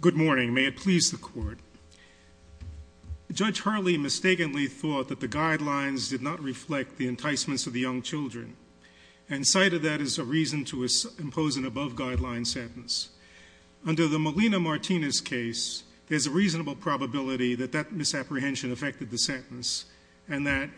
Good morning. May it please the court. Judge Hurley mistakenly thought that the guidelines did not reflect the enticements of the young children and cited that as a reason to impose an above-guideline sentence. Under the Molina-Martinez case, there's a reasonable probability that that misapprehension affected the sentence and that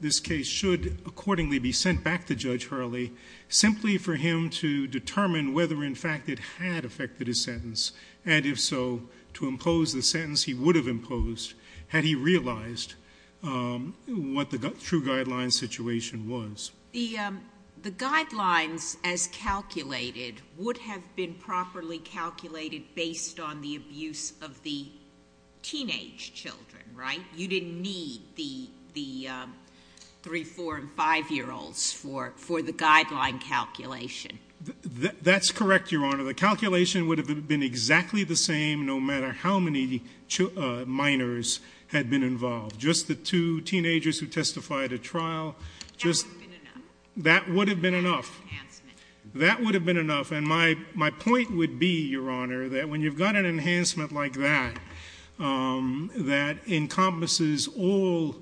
this case should accordingly be sent back to Judge Hurley simply for him to determine whether, in fact, it had affected his sentence and, if so, to impose the sentence he would have imposed had he realized what the true guideline situation was. The guidelines, as calculated, would have been properly calculated based on the abuse of the teenage children, right? You didn't need the 3-, 4-, and 5-year-olds for the guideline calculation. That's correct, Your Honor. The calculation would have been exactly the same no matter how many minors had been involved. Just the two teenagers who testified at trial. That would have been enough. That would have been enough. And my point would be, Your Honor, that when you've got an enhancement like that, that encompasses all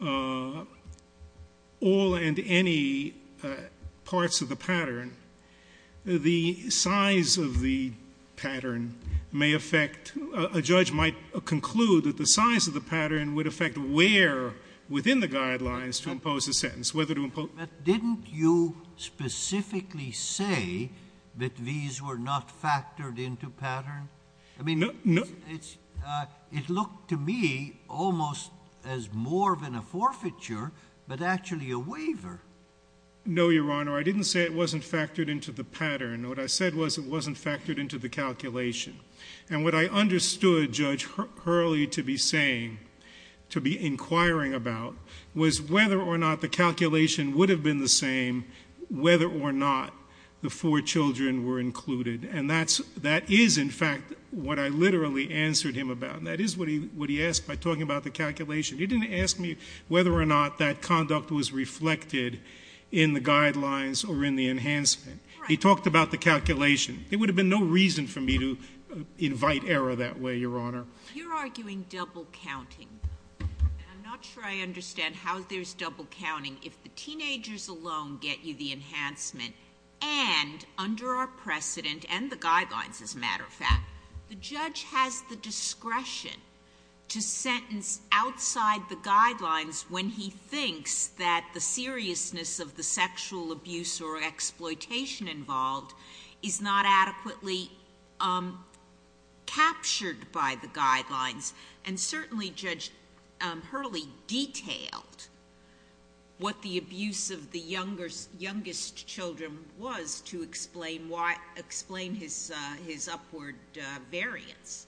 and any parts of the pattern, the size of the pattern may affect, a judge might conclude that the size of the pattern would affect where within the guidelines to impose a sentence, whether to impose. But didn't you specifically say that these were not factored into pattern? I mean, it looked to me almost as more than a forfeiture but actually a waiver. No, Your Honor. I didn't say it wasn't factored into the pattern. What I said was it wasn't factored into the calculation. And what I understood Judge Hurley to be saying, to be inquiring about was whether or not the calculation would have been the same whether or not the four children were included. And that is, in fact, what I literally answered him about. And that is what he asked by talking about the calculation. He didn't ask me whether or not that conduct was reflected in the guidelines or in the enhancement. He talked about the calculation. There would have been no reason for me to invite error that way, Your Honor. You're arguing double counting. I'm not sure I understand how there's double counting. If the teenagers alone get you the enhancement and under our precedent and the guidelines, as a matter of fact, the judge has the discretion to sentence outside the guidelines when he is not adequately captured by the guidelines. And certainly, Judge Hurley detailed what the abuse of the youngest children was to explain his upward variance.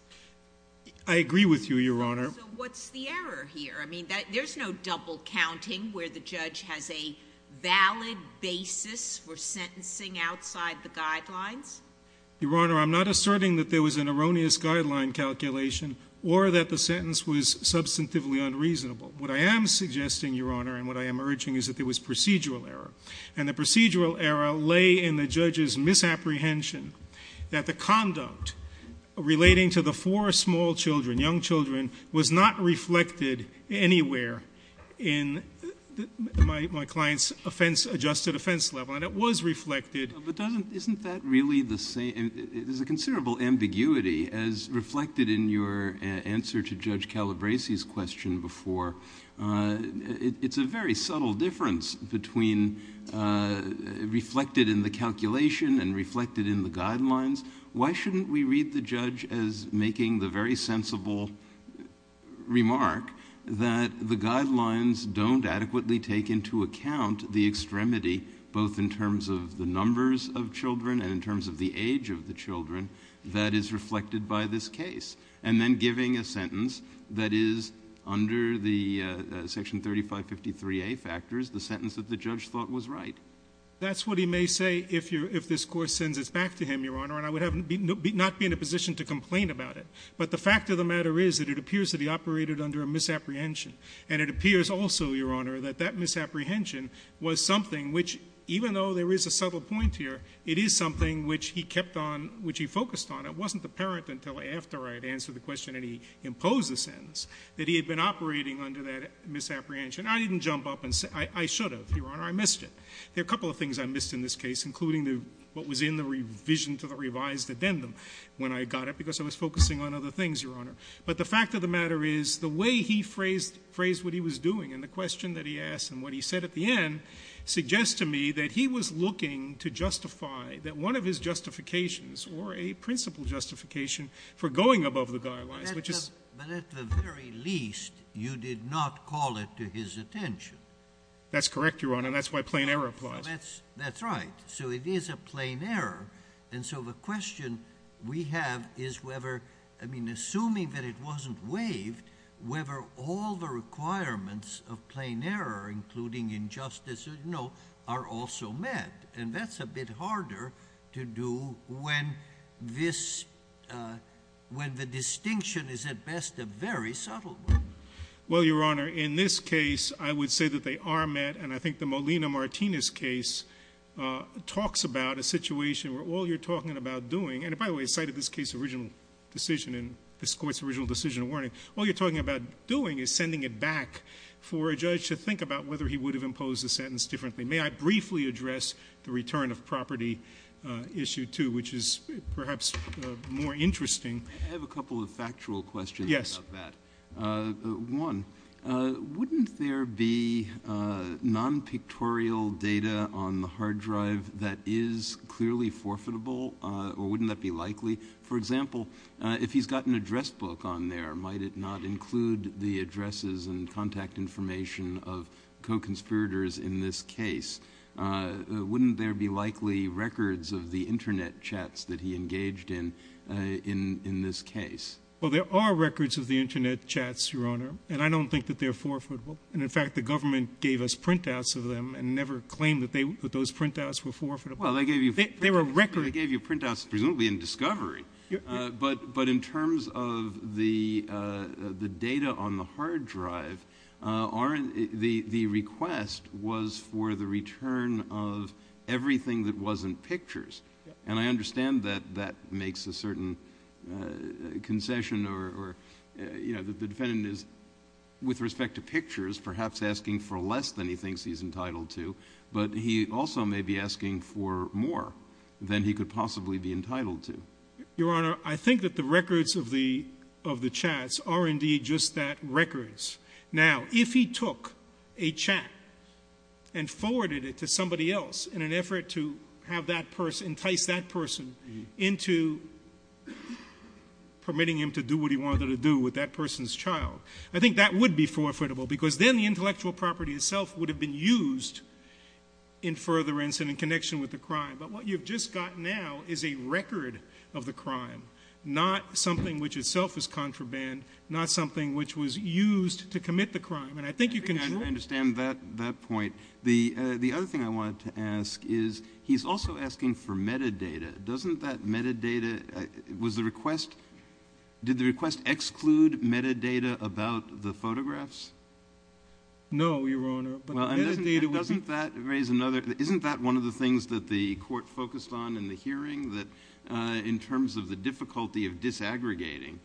I agree with you, Your Honor. So what's the error here? I mean, there's no double counting where the judge has a valid basis for sentencing outside the guidelines? Your Honor, I'm not asserting that there was an erroneous guideline calculation or that the sentence was substantively unreasonable. What I am suggesting, Your Honor, and what I am urging is that there was procedural error. And the procedural error lay in the judge's misapprehension that the conduct relating to the four small children, young children, was not reflected anywhere in my client's adjusted offense level. And it was reflected. But isn't that really the same? There's a considerable ambiguity as reflected in your answer to Judge Calabresi's question before. It's a very subtle difference between reflected in the calculation and reflected in the guidelines. Why shouldn't we read the judge as making the very sensible remark that the guidelines don't adequately take into account the extremity both in terms of the numbers of children and in terms of the age of the children that is reflected by this case, and then giving a sentence that is under the Section 3553A factors the sentence that the judge thought was right? That's what he may say if this Court sends it back to him, Your Honor, and I would not be in a position to complain about it. But the fact of the matter is that it appears that he operated under a misapprehension. And it appears also, Your Honor, that that misapprehension was something which, even though there is a subtle point here, it is something which he kept on, which he focused on. It wasn't apparent until after I had answered the question and he imposed the sentence that he had been operating under that misapprehension. I didn't jump up and say — I should have, Your Honor. I missed it. There are a couple of things I missed in this case, including the — what was in the revision to the revised addendum when I got it, because I was focusing on other things, Your Honor. But the fact of the matter is the way he phrased what he was doing and the question that he asked and what he said at the end suggests to me that he was looking to justify that one of his justifications or a principal justification for going above the guidelines, which is — But at the very least, you did not call it to his attention. That's correct, Your Honor, and that's why plain error applies. Well, that's right. So it is a plain error. And so the question we have is whether — I mean, assuming that it wasn't waived, whether all the requirements of plain error, including injustice, you know, are also met. And that's a bit harder to do when this — when the distinction is, at best, a very subtle one. Well, Your Honor, in this case, I would say that they are met, and I think the Molina Martinez case talks about a situation where all you're talking about doing — and, by the way, cited this case's original decision and this Court's original decision of warning — all you're talking about doing is sending it back for a judge to think about whether he would have imposed the sentence differently. May I briefly address the return of property issue 2, which is perhaps more interesting? I have a couple of factual questions about that. Yes. One, wouldn't there be non-pictorial data on the hard drive that is clearly forfeitable, or wouldn't that be likely? For example, if he's got an address book on there, might it not include the addresses and contact information of co-conspirators in this case? Wouldn't there be likely records of the Internet chats that he engaged in in this case? Well, there are records of the Internet chats, Your Honor, and I don't think that they're forfeitable. And, in fact, the government gave us printouts of them and never claimed that those printouts were forfeitable. Well, they gave you — They were records. They gave you printouts, presumably in discovery. But in terms of the data on the hard drive, the request was for the return of everything that wasn't pictures. And I understand that that makes a certain concession or — you know, the defendant is, with respect to pictures, perhaps asking for less than he thinks he's entitled to, but he also may be asking for more than he could possibly be entitled to. Your Honor, I think that the records of the chats are indeed just that, records. Now, if he took a chat and forwarded it to somebody else in an effort to have that person — entice into permitting him to do what he wanted to do with that person's child, I think that would be forfeitable, because then the intellectual property itself would have been used in furtherance and in connection with the crime. But what you've just got now is a record of the crime, not something which itself is contraband, not something which was used to commit the crime. And I think you can — I think I understand that point. The other thing I wanted to ask is, he's also asking for metadata. Doesn't that metadata — was the request — did the request exclude metadata about the photographs? No, Your Honor. But the metadata — Doesn't that raise another — isn't that one of the things that the Court focused on in the hearing, that in terms of the difficulty of disaggregating,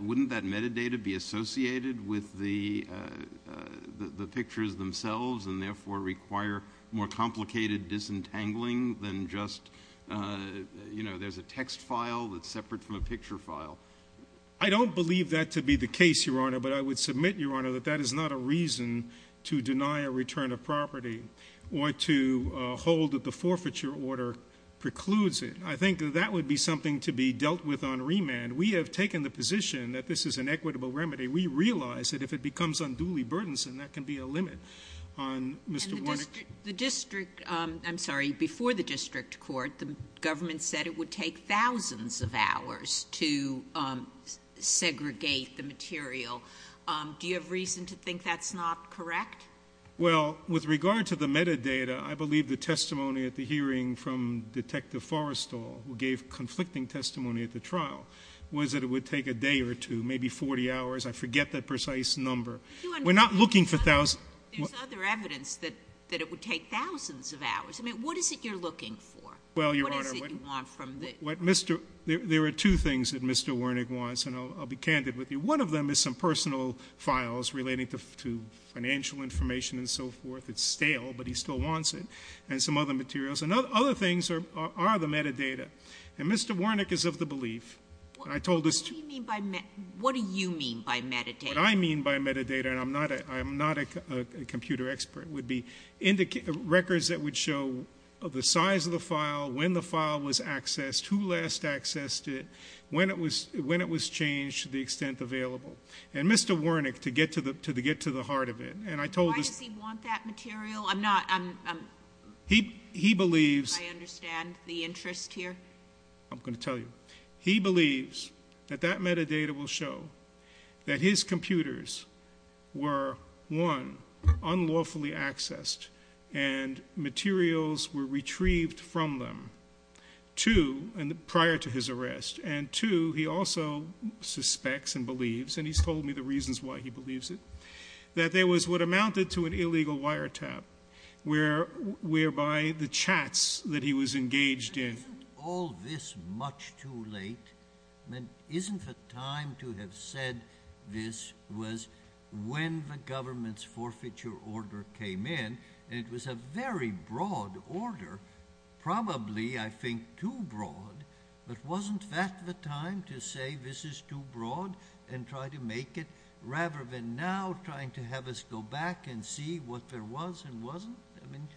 wouldn't that metadata be associated with the pictures themselves and therefore require more complicated disentangling than just, you know, there's a text file that's separate from a picture file? I don't believe that to be the case, Your Honor. But I would submit, Your Honor, that that is not a reason to deny a return of property or to hold that the forfeiture order precludes it. I think that that would be something to be dealt with on remand. We have taken the position that this is an equitable remedy. We realize that if it becomes unduly burdensome, On Mr. Warnick — The district — I'm sorry, before the district court, the government said it would take thousands of hours to segregate the material. Do you have reason to think that's not correct? Well, with regard to the metadata, I believe the testimony at the hearing from Detective Forrestal, who gave conflicting testimony at the trial, was that it would take a day or two, maybe 40 hours. I forget that precise number. But you — We're not looking for thousands — There's other evidence that it would take thousands of hours. I mean, what is it you're looking for? What is it you want from the — Well, Your Honor, what Mr. — there are two things that Mr. Warnick wants, and I'll be candid with you. One of them is some personal files relating to financial information and so forth. It's stale, but he still wants it, and some other materials. And other things are the metadata. And Mr. Warnick is of the belief — What do you mean by — what do you mean by metadata? What I mean by metadata — and I'm not a computer expert — would be records that would show the size of the file, when the file was accessed, who last accessed it, when it was changed to the extent available. And Mr. Warnick, to get to the heart of it, and I told — Why does he want that material? I'm not — He believes — I understand the interest here. I'm going to tell you. He believes that that metadata will show that his computers were, one, unlawfully accessed and materials were retrieved from them, two — and prior to his arrest — and two, he also suspects and believes — and he's told me the reasons why he believes it — that there was what amounted to an illegal wiretap, whereby the chats that he was engaged in — Isn't all this much too late? I mean, isn't the time to have said this was when the government's forfeiture order came in? And it was a very broad order, probably, I think, too broad. But wasn't that the time to say this is too broad and try to make it, rather than now trying to have us go back and see what there was and wasn't? I mean —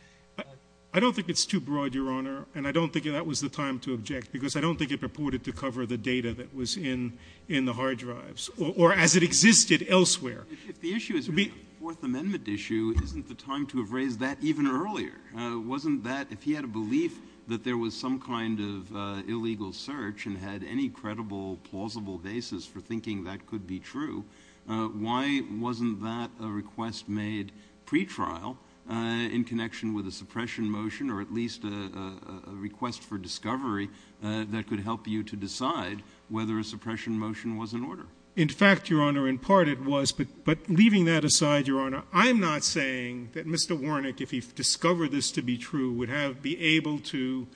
I don't think it's too broad, Your Honor, and I don't think that was the time to object, because I don't think it purported to cover the data that was in the hard drives, or as it existed elsewhere. If the issue is a Fourth Amendment issue, isn't the time to have raised that even earlier? Wasn't that — if he had a belief that there was some kind of illegal search and had any credible, plausible basis for thinking that could be true, why wasn't that a request made pre-trial in connection with a suppression motion, or at least a request for discovery that could help you to decide whether a suppression motion was in order? In fact, Your Honor, in part it was. But leaving that aside, Your Honor, I'm not saying that Mr. Warnock, if he discovered this to be true, would be able to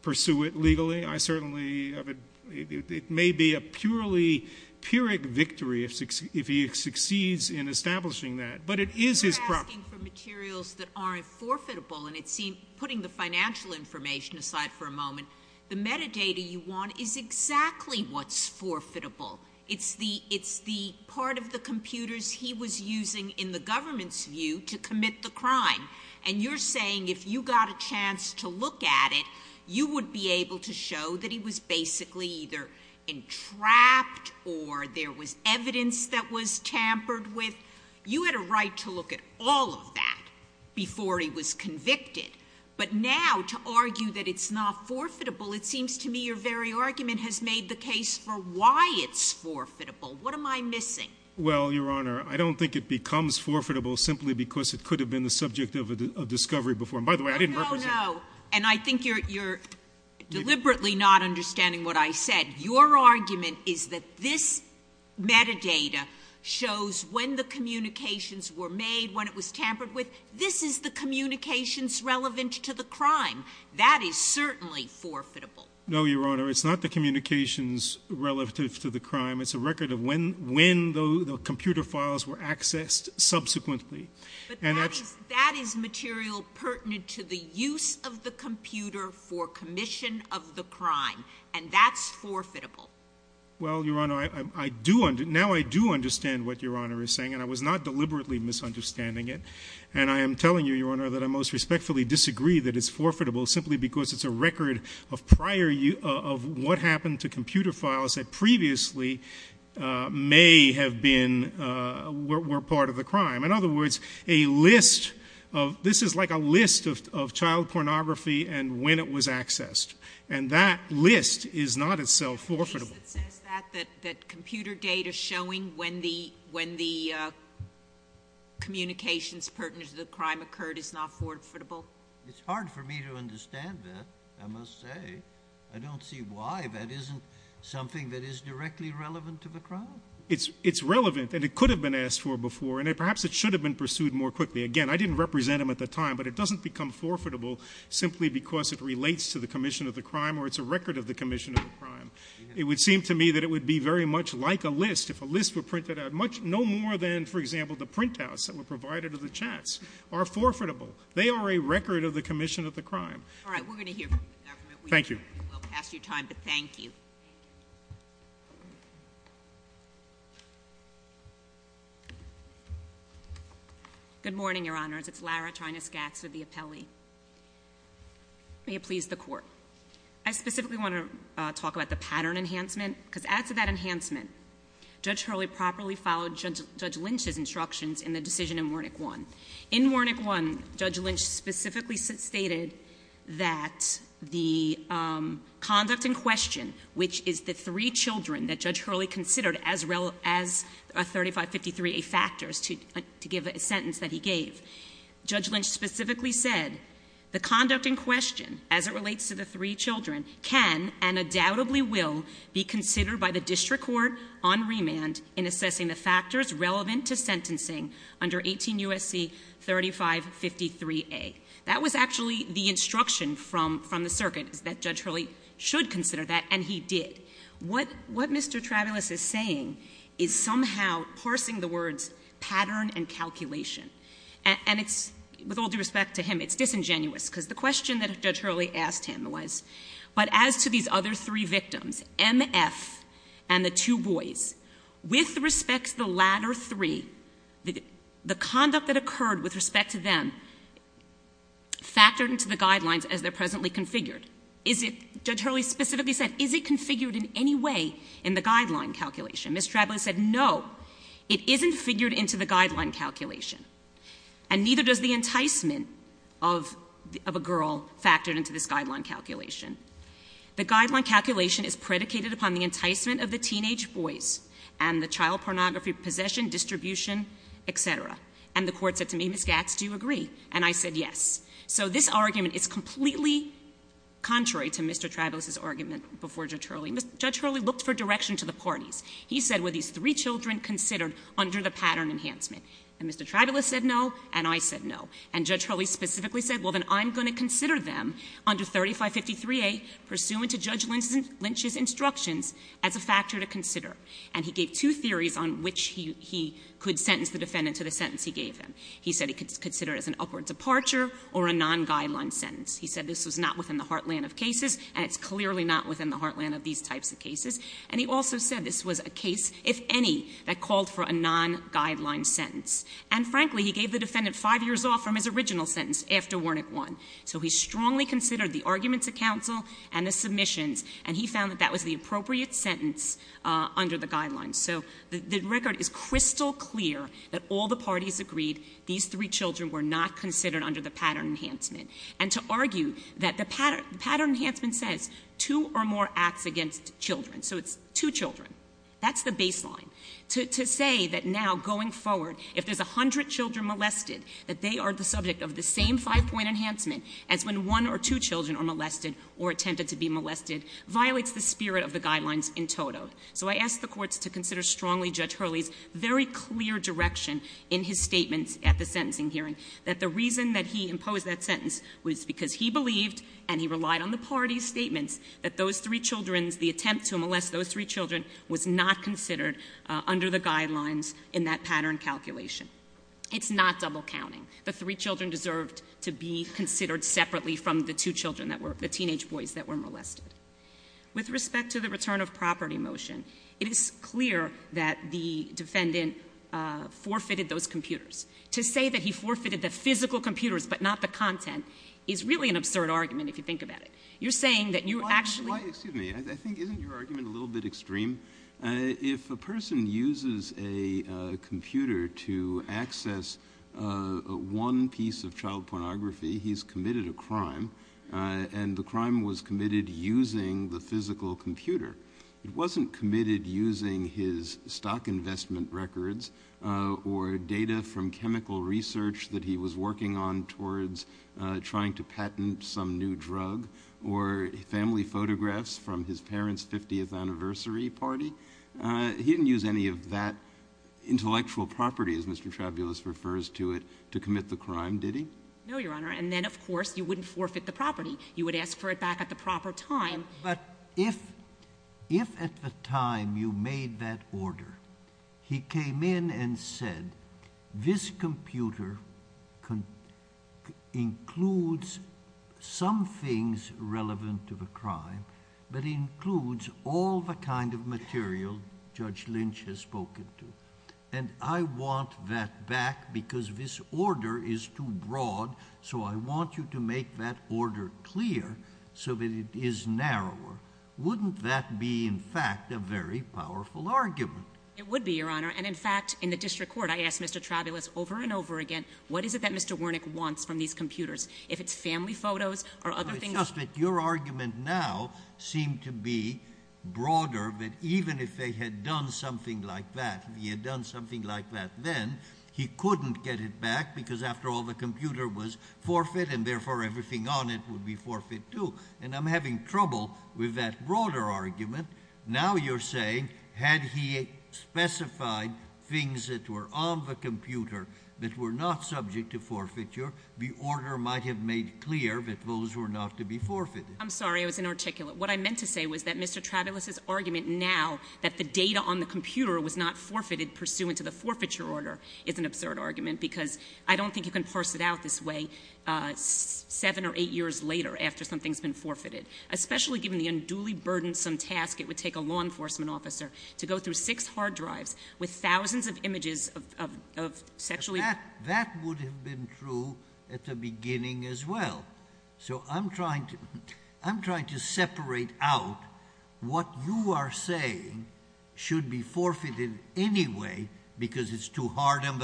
pursue it legally. I certainly — it may be a purely pyrrhic victory if he succeeds in establishing that. But it is his — You're asking for materials that aren't forfeitable, and it seems — putting the financial information aside for a moment, the metadata you want is exactly what's forfeitable. It's the — it's the part of the computers he was using in the government's view to commit the crime. And you're saying if you got a chance to look at it, you would be able to show that he was basically either entrapped or there was evidence that was tampered with. You had a right to look at all of that before he was convicted. But now to argue that it's not forfeitable, it seems to me your very argument has made the case for why it's forfeitable. What am I missing? Well, Your Honor, I don't think it becomes forfeitable simply because it could have been the subject of a discovery before. And by the way, I didn't represent — No, no, no. And I think you're deliberately not understanding what I said. Your argument is that this metadata shows when the communications were made, when it was tampered with. This is the communications relevant to the crime. That is certainly forfeitable. No, Your Honor. It's not the communications relative to the crime. It's a record of when — when the computer files were accessed subsequently. And that's — But that is — that is material pertinent to the use of the computer for commission of the crime. And that's forfeitable. Well, Your Honor, I do — now I do understand what Your Honor is saying. And I was not deliberately misunderstanding it. And I am telling you, Your Honor, that I most respectfully disagree that it's forfeitable simply because it's a record of prior — of what happened to computer files that previously may have been — were part of the crime. In other words, a list of — this is like a list of child pornography and when it was accessed. And that list is not itself forfeitable. Is it that — that computer data showing when the — when the communications pertinent to the crime occurred is not forfeitable? It's hard for me to understand that, I must say. I don't see why that isn't something that is directly relevant to the crime. It's relevant. And it could have been asked for before. And perhaps it should have been pursued more quickly. Again, I didn't represent them at the time. But it doesn't become forfeitable simply because it relates to the commission of the crime or it's a record of the commission of the crime. It would seem to me that it would be very much like a list if a list were printed out much — no more than, for example, the printouts that were provided to the chats are forfeitable. They are a record of the commission of the crime. All right. We're going to hear from the government. Thank you. We'll pass your time, but thank you. Good morning, Your Honors. It's Lara Chynaskacs with the Appellee. May it please the Court. I specifically want to talk about the pattern enhancement, because as of that enhancement, Judge Hurley properly followed Judge Lynch's instructions in the decision in Warnick 1. In Warnick 1, Judge Lynch specifically stated that the conduct in question, which is the three children that Judge Hurley considered as a 3553A factors to give a sentence that he gave. Judge Lynch specifically said, the conduct in question as it relates to the three children can and undoubtedly will be considered by the district court on remand in assessing the factors relevant to sentencing under 18 U.S.C. 3553A. That was actually the instruction from the circuit, is that Judge Hurley should consider that, and he did. What Mr. Travulis is saying is somehow parsing the words pattern and calculation. And it's — with all due respect to him, it's disingenuous, because the question that Judge Hurley asked him was, but as to these other three victims, M.F. and the two boys, with respect to the latter three, the conduct that occurred with respect to them factored into the guidelines as they're presently configured. Is it — Judge Hurley specifically said, is it configured in any way in the guideline calculation? Mr. Travulis said, no, it isn't figured into the guideline calculation, and neither does the enticement of a girl factored into this guideline calculation. The guideline calculation is predicated upon the enticement of the teenage boys and the child pornography possession, distribution, et cetera. And the court said to me, Ms. Gatz, do you agree? And I said yes. So this argument is completely contrary to Mr. Travulis's argument before Judge Hurley. Judge Hurley looked for direction to the parties. He said, were these three children considered under the pattern enhancement? And Mr. Travulis said no, and I said no. And Judge Hurley specifically said, well, then I'm going to consider them under 3553A, pursuant to Judge Lynch's instructions, as a factor to consider. And he gave two theories on which he could sentence the defendant to the sentence he gave him. He said he could consider it as an upward departure or a non-guideline sentence. He said this was not within the heartland of cases, and it's clearly not within the heartland of these types of cases. And he also said this was a case, if any, that called for a non-guideline sentence. And frankly, he gave the defendant five years off from his original sentence after Wernick won. So he strongly considered the arguments of counsel and the submissions, and he found that that was the appropriate sentence under the guidelines. So the record is crystal clear that all the parties agreed these three children were not considered under the pattern enhancement. And to argue that the pattern enhancement says two or more acts against children, so it's two children. That's the baseline. To say that now, going forward, if there's 100 children molested, that they are the subject of the same five point enhancement as when one or two children are molested or attempted to be molested, violates the spirit of the guidelines in total. So I ask the courts to consider strongly Judge Hurley's very clear direction in his statements at the sentencing hearing. That the reason that he imposed that sentence was because he believed, and he relied on the party's statements, that those three children's, the attempt to molest those three children was not considered under the guidelines in that pattern calculation. It's not double counting. The three children deserved to be considered separately from the two children that were, the teenage boys that were molested. With respect to the return of property motion, it is clear that the defendant forfeited those computers. To say that he forfeited the physical computers but not the content is really an absurd argument if you think about it. You're saying that you actually- Why, excuse me, I think isn't your argument a little bit extreme? If a person uses a computer to access one piece of child pornography, he's committed a crime, and the crime was committed using the physical computer. It wasn't committed using his stock investment records or data from chemical research that he was working on towards trying to patent some new drug. Or family photographs from his parent's 50th anniversary party. He didn't use any of that intellectual property, as Mr. Trabulus refers to it, to commit the crime, did he? No, Your Honor, and then, of course, you wouldn't forfeit the property. You would ask for it back at the proper time. But if at the time you made that order, he came in and said, this computer includes some things relevant to the crime, but includes all the kind of material Judge Lynch has spoken to. And I want that back because this order is too broad, so I want you to make that order clear so that it is narrower. Wouldn't that be, in fact, a very powerful argument? It would be, Your Honor. And in fact, in the district court, I asked Mr. Trabulus over and over again, what is it that Mr. Wernick wants from these computers? If it's family photos or other things. It's just that your argument now seemed to be broader, that even if they had done something like that, if he had done something like that then, he couldn't get it back because after all the computer was forfeit and therefore everything on it would be forfeit too. And I'm having trouble with that broader argument. Now you're saying, had he specified things that were on the computer that were not subject to forfeiture, the order might have made clear that those were not to be forfeited. I'm sorry, I was inarticulate. What I meant to say was that Mr. Trabulus' argument now that the data on the computer was not forfeited pursuant to the forfeiture order is an absurd argument. Because I don't think you can parse it out this way seven or eight years later after something's been forfeited. Especially given the unduly burdensome task it would take a law enforcement officer to go through six hard drives with thousands of images of sexually- That would have been true at the beginning as well. So I'm trying to separate out what you are saying should be forfeited anyway because it's too hard on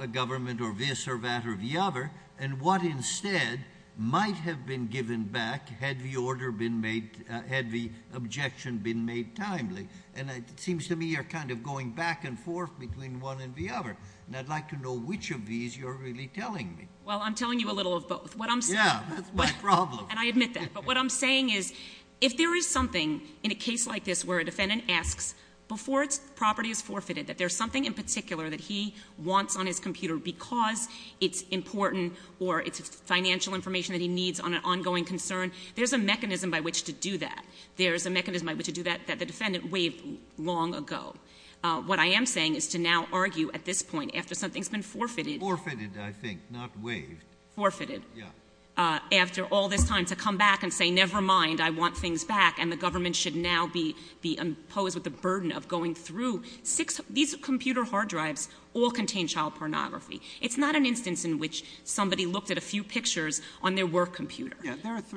the government or this or that or the other. And what instead might have been given back had the objection been made timely. And it seems to me you're kind of going back and forth between one and the other. And I'd like to know which of these you're really telling me. Well, I'm telling you a little of both. What I'm saying- Yeah, that's my problem. And I admit that. But what I'm saying is, if there is something in a case like this where a defendant asks before its property is forfeited, that there's something in particular that he wants on his computer because it's important or it's financial information that he needs on an ongoing concern, there's a mechanism by which to do that. There's a mechanism by which to do that that the defendant waived long ago. What I am saying is to now argue at this point after something's been forfeited- Waived? Forfeited. Yeah. After all this time to come back and say, never mind, I want things back. And the government should now be imposed with the burden of going through. These computer hard drives all contain child pornography. It's not an instance in which somebody looked at a few pictures on their work computer. Yeah,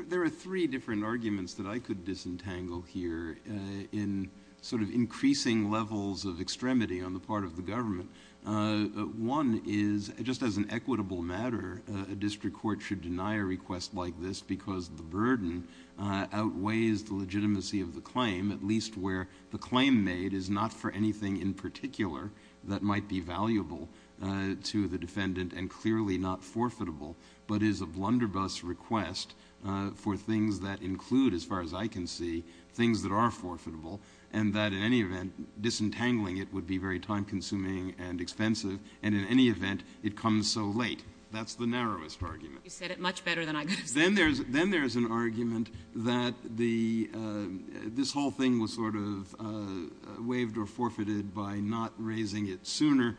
there are three different arguments that I could disentangle here in sort of increasing levels of extremity on the part of the government. One is, just as an equitable matter, a district court should deny a request like this because the burden outweighs the legitimacy of the claim, at least where the claim made is not for anything in particular that might be valuable to the defendant and clearly not forfeitable, but is a blunderbuss request for things that include, as far as I can see, things that are forfeitable. And that in any event, disentangling it would be very time consuming and expensive. And in any event, it comes so late. That's the narrowest argument. You said it much better than I could have said it. Then there's an argument that this whole thing was sort of waived or forfeited by not raising it sooner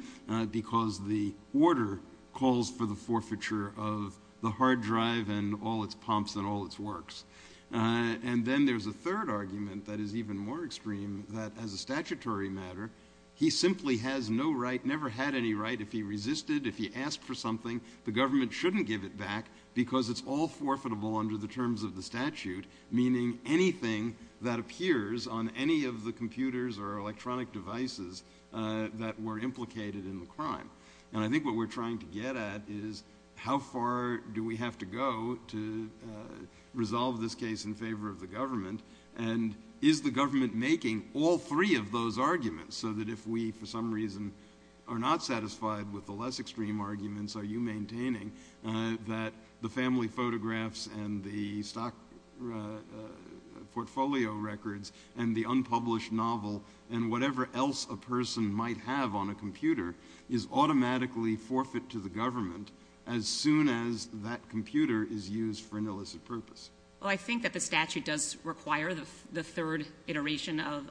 because the order calls for the forfeiture of the hard drive and all its pumps and all its works. And then there's a third argument that is even more extreme, that as a statutory matter, he simply has no right, never had any right, if he resisted, if he asked for something, the government shouldn't give it back because it's all forfeitable under the terms of the statute, meaning anything that appears on any of the computers or electronic devices that were implicated in the crime. And I think what we're trying to get at is how far do we have to go to resolve this case in favor of the government? And is the government making all three of those arguments so that if we, for some reason, are not satisfied with the less extreme arguments, are you maintaining that the family photographs and the stock portfolio records and the unpublished novel and whatever else a person might have on a computer is automatically forfeit to the government as soon as that computer is used for an illicit purpose? Well, I think that the statute does require the third iteration of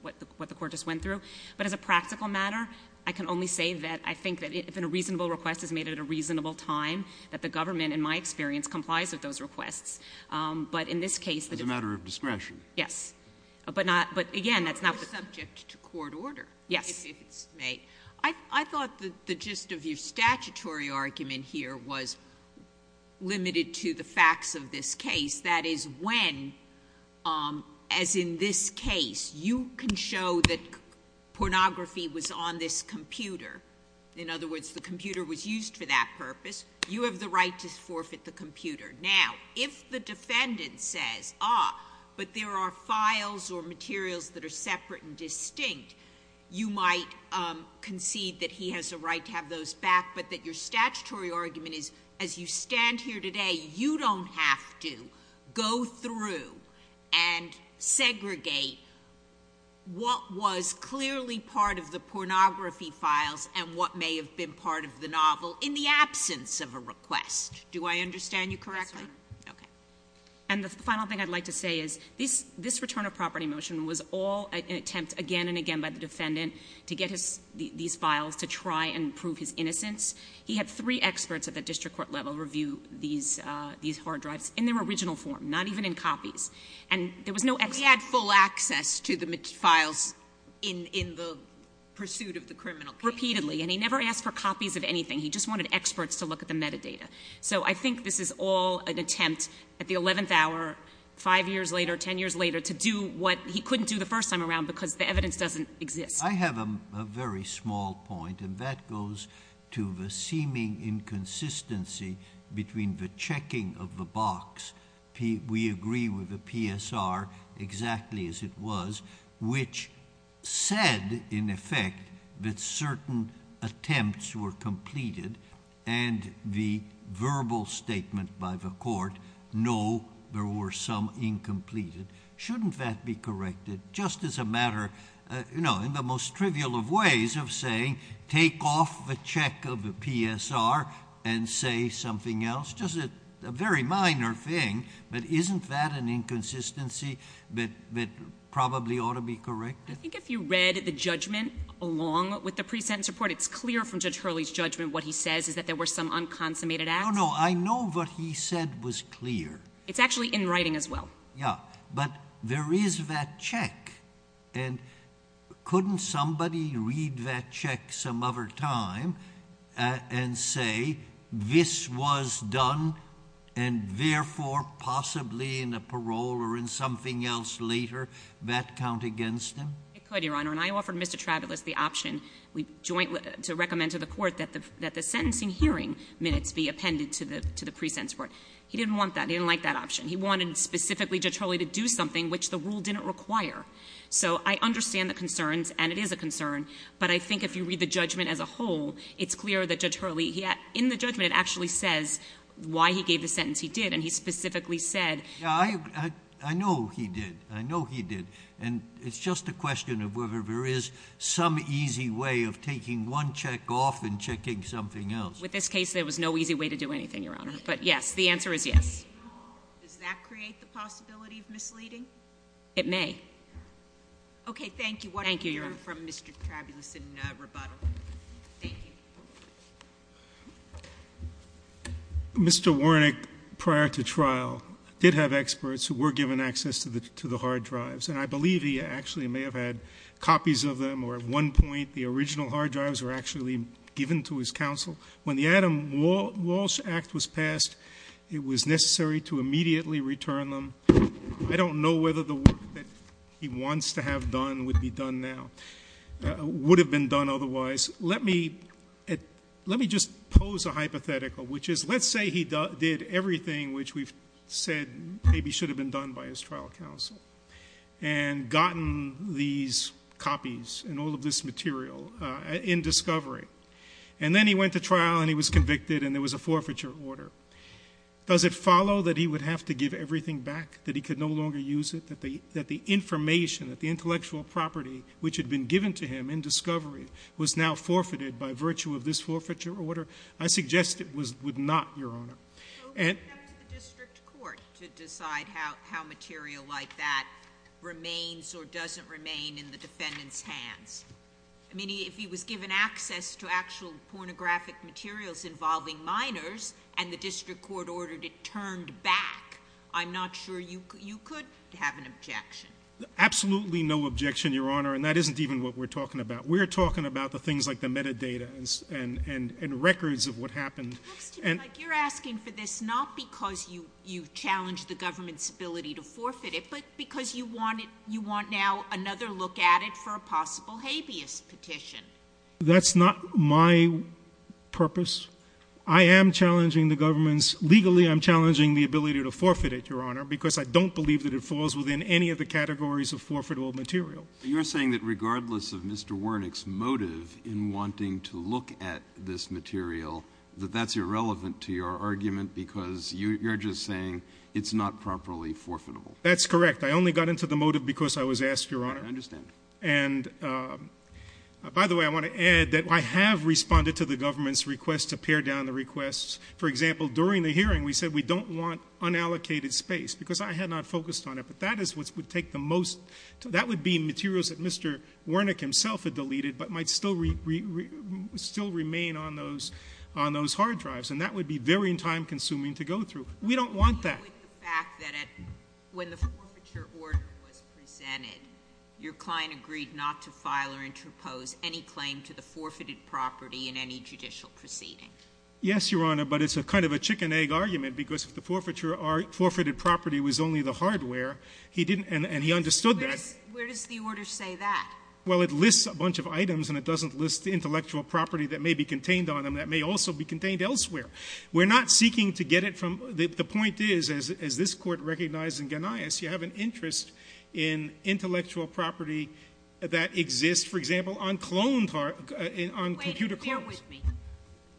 what the court just went through. But as a practical matter, I can only say that I think that if a reasonable request is made at a reasonable time, that the government, in my experience, complies with those requests. But in this case- As a matter of discretion. Yes. But again, that's not- I'm subject to court order. Yes. I thought that the gist of your statutory argument here was limited to the facts of this case. That is when, as in this case, you can show that pornography was on this computer. In other words, the computer was used for that purpose. You have the right to forfeit the computer. Now, if the defendant says, ah, but there are files or materials that are separate and distinct, you might concede that he has a right to have those back, but that your statutory argument is, as you stand here today, you don't have to go through and segregate what was clearly part of the pornography files and what may have been part of the novel in the absence of a request. Do I understand you correctly? Yes, Your Honor. Okay. And the final thing I'd like to say is, this return of property motion was all an attempt again and again by the defendant to get these files to try and prove his innocence. He had three experts at the district court level review these hard drives in their original form, not even in copies. And there was no- He had full access to the files in the pursuit of the criminal case. Repeatedly, and he never asked for copies of anything. He just wanted experts to look at the metadata. So I think this is all an attempt at the 11th hour, five years later, ten years later, to do what he couldn't do the first time around because the evidence doesn't exist. I have a very small point, and that goes to the seeming inconsistency between the checking of the box, we agree with the PSR exactly as it was, which said, in effect, that certain attempts were completed. And the verbal statement by the court, no, there were some incompleted. Shouldn't that be corrected? Just as a matter, in the most trivial of ways of saying, take off the check of the PSR and say something else. Just a very minor thing, but isn't that an inconsistency that probably ought to be corrected? I think if you read the judgment along with the pre-sentence report, it's clear from Judge Hurley's judgment what he says is that there were some unconsummated acts. No, no, I know what he said was clear. It's actually in writing as well. Yeah, but there is that check. And couldn't somebody read that check some other time and say this was done and therefore possibly in a parole or in something else later that count against him? It could, Your Honor. And I offered Mr. Travolos the option to recommend to the court that the sentencing hearing minutes be appended to the pre-sentence report. He didn't want that. He didn't like that option. He wanted specifically Judge Hurley to do something which the rule didn't require. So I understand the concerns, and it is a concern, but I think if you read the judgment as a whole, it's clear that Judge Hurley, in the judgment it actually says why he gave the sentence he did. And he specifically said- Yeah, I know he did. I know he did. And it's just a question of whether there is some easy way of taking one check off and checking something else. With this case, there was no easy way to do anything, Your Honor. But yes, the answer is yes. Does that create the possibility of misleading? It may. Okay, thank you. Thank you, Your Honor. What did you learn from Mr. Travolos in rebuttal? Thank you. Mr. Warnick, prior to trial, did have experts who were given access to the hard drives. And I believe he actually may have had copies of them, or at one point, the original hard drives were actually given to his counsel. When the Adam Walsh Act was passed, it was necessary to immediately return them. I don't know whether the work that he wants to have done would be done now, would have been done otherwise. Let me just pose a hypothetical, which is, let's say he did everything which we've said maybe should have been done by his trial counsel. And gotten these copies and all of this material in discovery. And then he went to trial, and he was convicted, and there was a forfeiture order. Does it follow that he would have to give everything back, that he could no longer use it? That the information, that the intellectual property which had been given to him in discovery was now forfeited by virtue of this forfeiture order? I suggest it would not, Your Honor. And- So he went up to the district court to decide how material like that remains or doesn't remain in the defendant's hands. I mean, if he was given access to actual pornographic materials involving minors, and the district court ordered it turned back, I'm not sure you could have an objection. Absolutely no objection, Your Honor, and that isn't even what we're talking about. We're talking about the things like the metadata and records of what happened. It looks to me like you're asking for this not because you challenged the government's ability to forfeit it, but because you want now another look at it for a possible habeas petition. That's not my purpose. I am challenging the government's, legally I'm challenging the ability to forfeit it, Your Honor, because I don't believe that it falls within any of the categories of forfeitable material. You're saying that regardless of Mr. Wernick's motive in wanting to look at this material, that that's irrelevant to your argument because you're just saying it's not properly forfeitable. That's correct. I only got into the motive because I was asked, Your Honor. I understand. And by the way, I want to add that I have responded to the government's request to pare down the requests. For example, during the hearing, we said we don't want unallocated space, because I had not focused on it. But that is what would take the most, that would be materials that Mr. Wernick himself had deleted, but might still remain on those hard drives, and that would be very time consuming to go through. We don't want that. I agree with the fact that when the forfeiture order was presented, your client agreed not to file or interpose any claim to the forfeited property in any judicial proceeding. Yes, Your Honor, but it's a kind of a chicken egg argument, because if the forfeited property was only the hardware, and he understood that. Where does the order say that? Well, it lists a bunch of items, and it doesn't list the intellectual property that may be contained on them that may also be contained elsewhere. We're not seeking to get it from, the point is, as this court recognized in Ganias, you have an interest in intellectual property that exists, for example, on cloned, on computer cards. Wait, bear with me.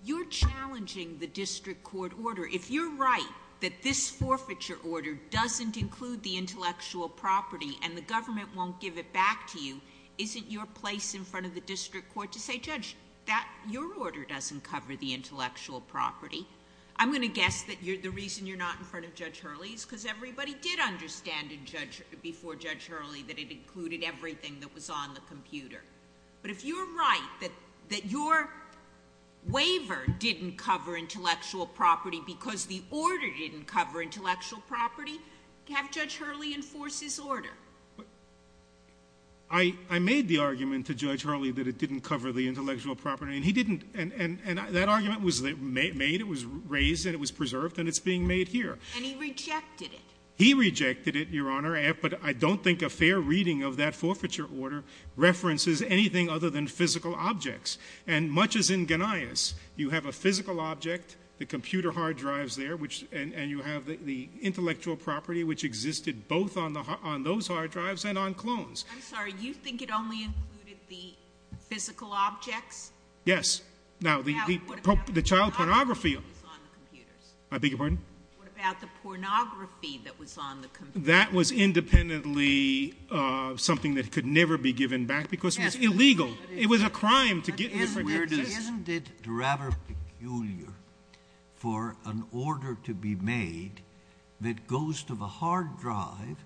You're challenging the district court order. If you're right that this forfeiture order doesn't include the intellectual property and the government won't give it back to you, isn't your place in front of the district court to say, Judge, your order doesn't cover the intellectual property. I'm going to guess that the reason you're not in front of Judge Hurley is because everybody did understand before Judge Hurley that it included everything that was on the computer. But if you're right that your waiver didn't cover intellectual property because the order didn't cover intellectual property, I made the argument to Judge Hurley that it didn't cover the intellectual property. And he didn't, and that argument was made, it was raised, and it was preserved, and it's being made here. And he rejected it. He rejected it, Your Honor, but I don't think a fair reading of that forfeiture order references anything other than physical objects. And much as in Ganias, you have a physical object, the computer hard drives there, and you have the intellectual property which existed both on those hard drives and on clones. I'm sorry, you think it only included the physical objects? Yes. Now, the child pornography- What about the pornography that was on the computers? I beg your pardon? What about the pornography that was on the computers? That was independently something that could never be given back because it was illegal. It was a crime to get in front of your district. Isn't it rather peculiar for an order to be made that goes to the hard drive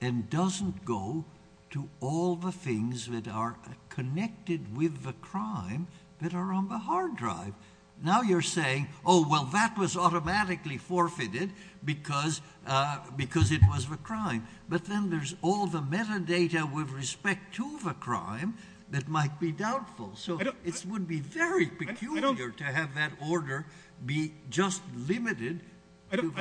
and doesn't go to all the things that are connected with the crime that are on the hard drive? Now you're saying, well, that was automatically forfeited because it was a crime. But then there's all the metadata with respect to the crime that might be doubtful. So it would be very peculiar to have that order be just limited to-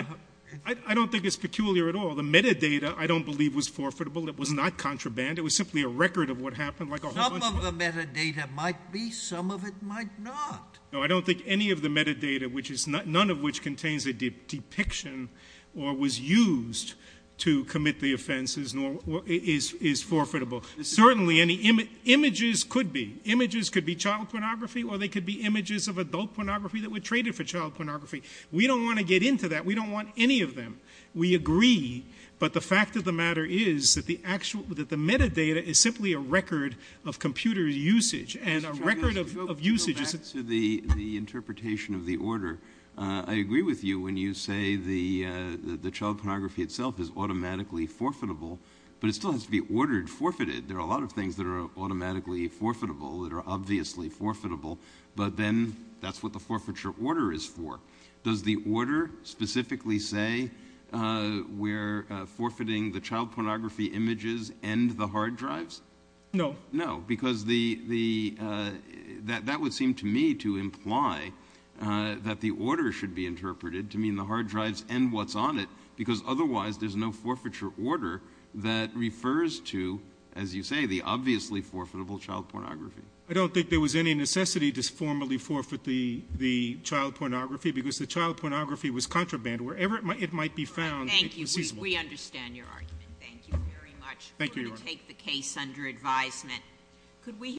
I don't think it's peculiar at all. The metadata, I don't believe, was forfeitable. It was not contraband. It was simply a record of what happened. Some of the metadata might be, some of it might not. No, I don't think any of the metadata, none of which contains a depiction or was used to commit the offenses is forfeitable. Certainly, images could be. Images could be child pornography or they could be images of adult pornography that were traded for child pornography. We don't want to get into that. We don't want any of them. We agree, but the fact of the matter is that the metadata is simply a record of computer usage and a record of usage- Back to the interpretation of the order. I agree with you when you say the child pornography itself is automatically forfeitable. But it still has to be ordered, forfeited. There are a lot of things that are automatically forfeitable that are obviously forfeitable, but then that's what the forfeiture order is for. Does the order specifically say we're forfeiting the child pornography images and the hard drives? No. No, because that would seem to me to imply that the order should be interpreted to mean the hard drives and what's on it. Because otherwise, there's no forfeiture order that refers to, as you say, the obviously forfeitable child pornography. I don't think there was any necessity to formally forfeit the child pornography, because the child pornography was contraband. Wherever it might be found- Thank you. We understand your argument. Thank you very much. Thank you, Your Honor. We're going to take the case under advisement. Could we-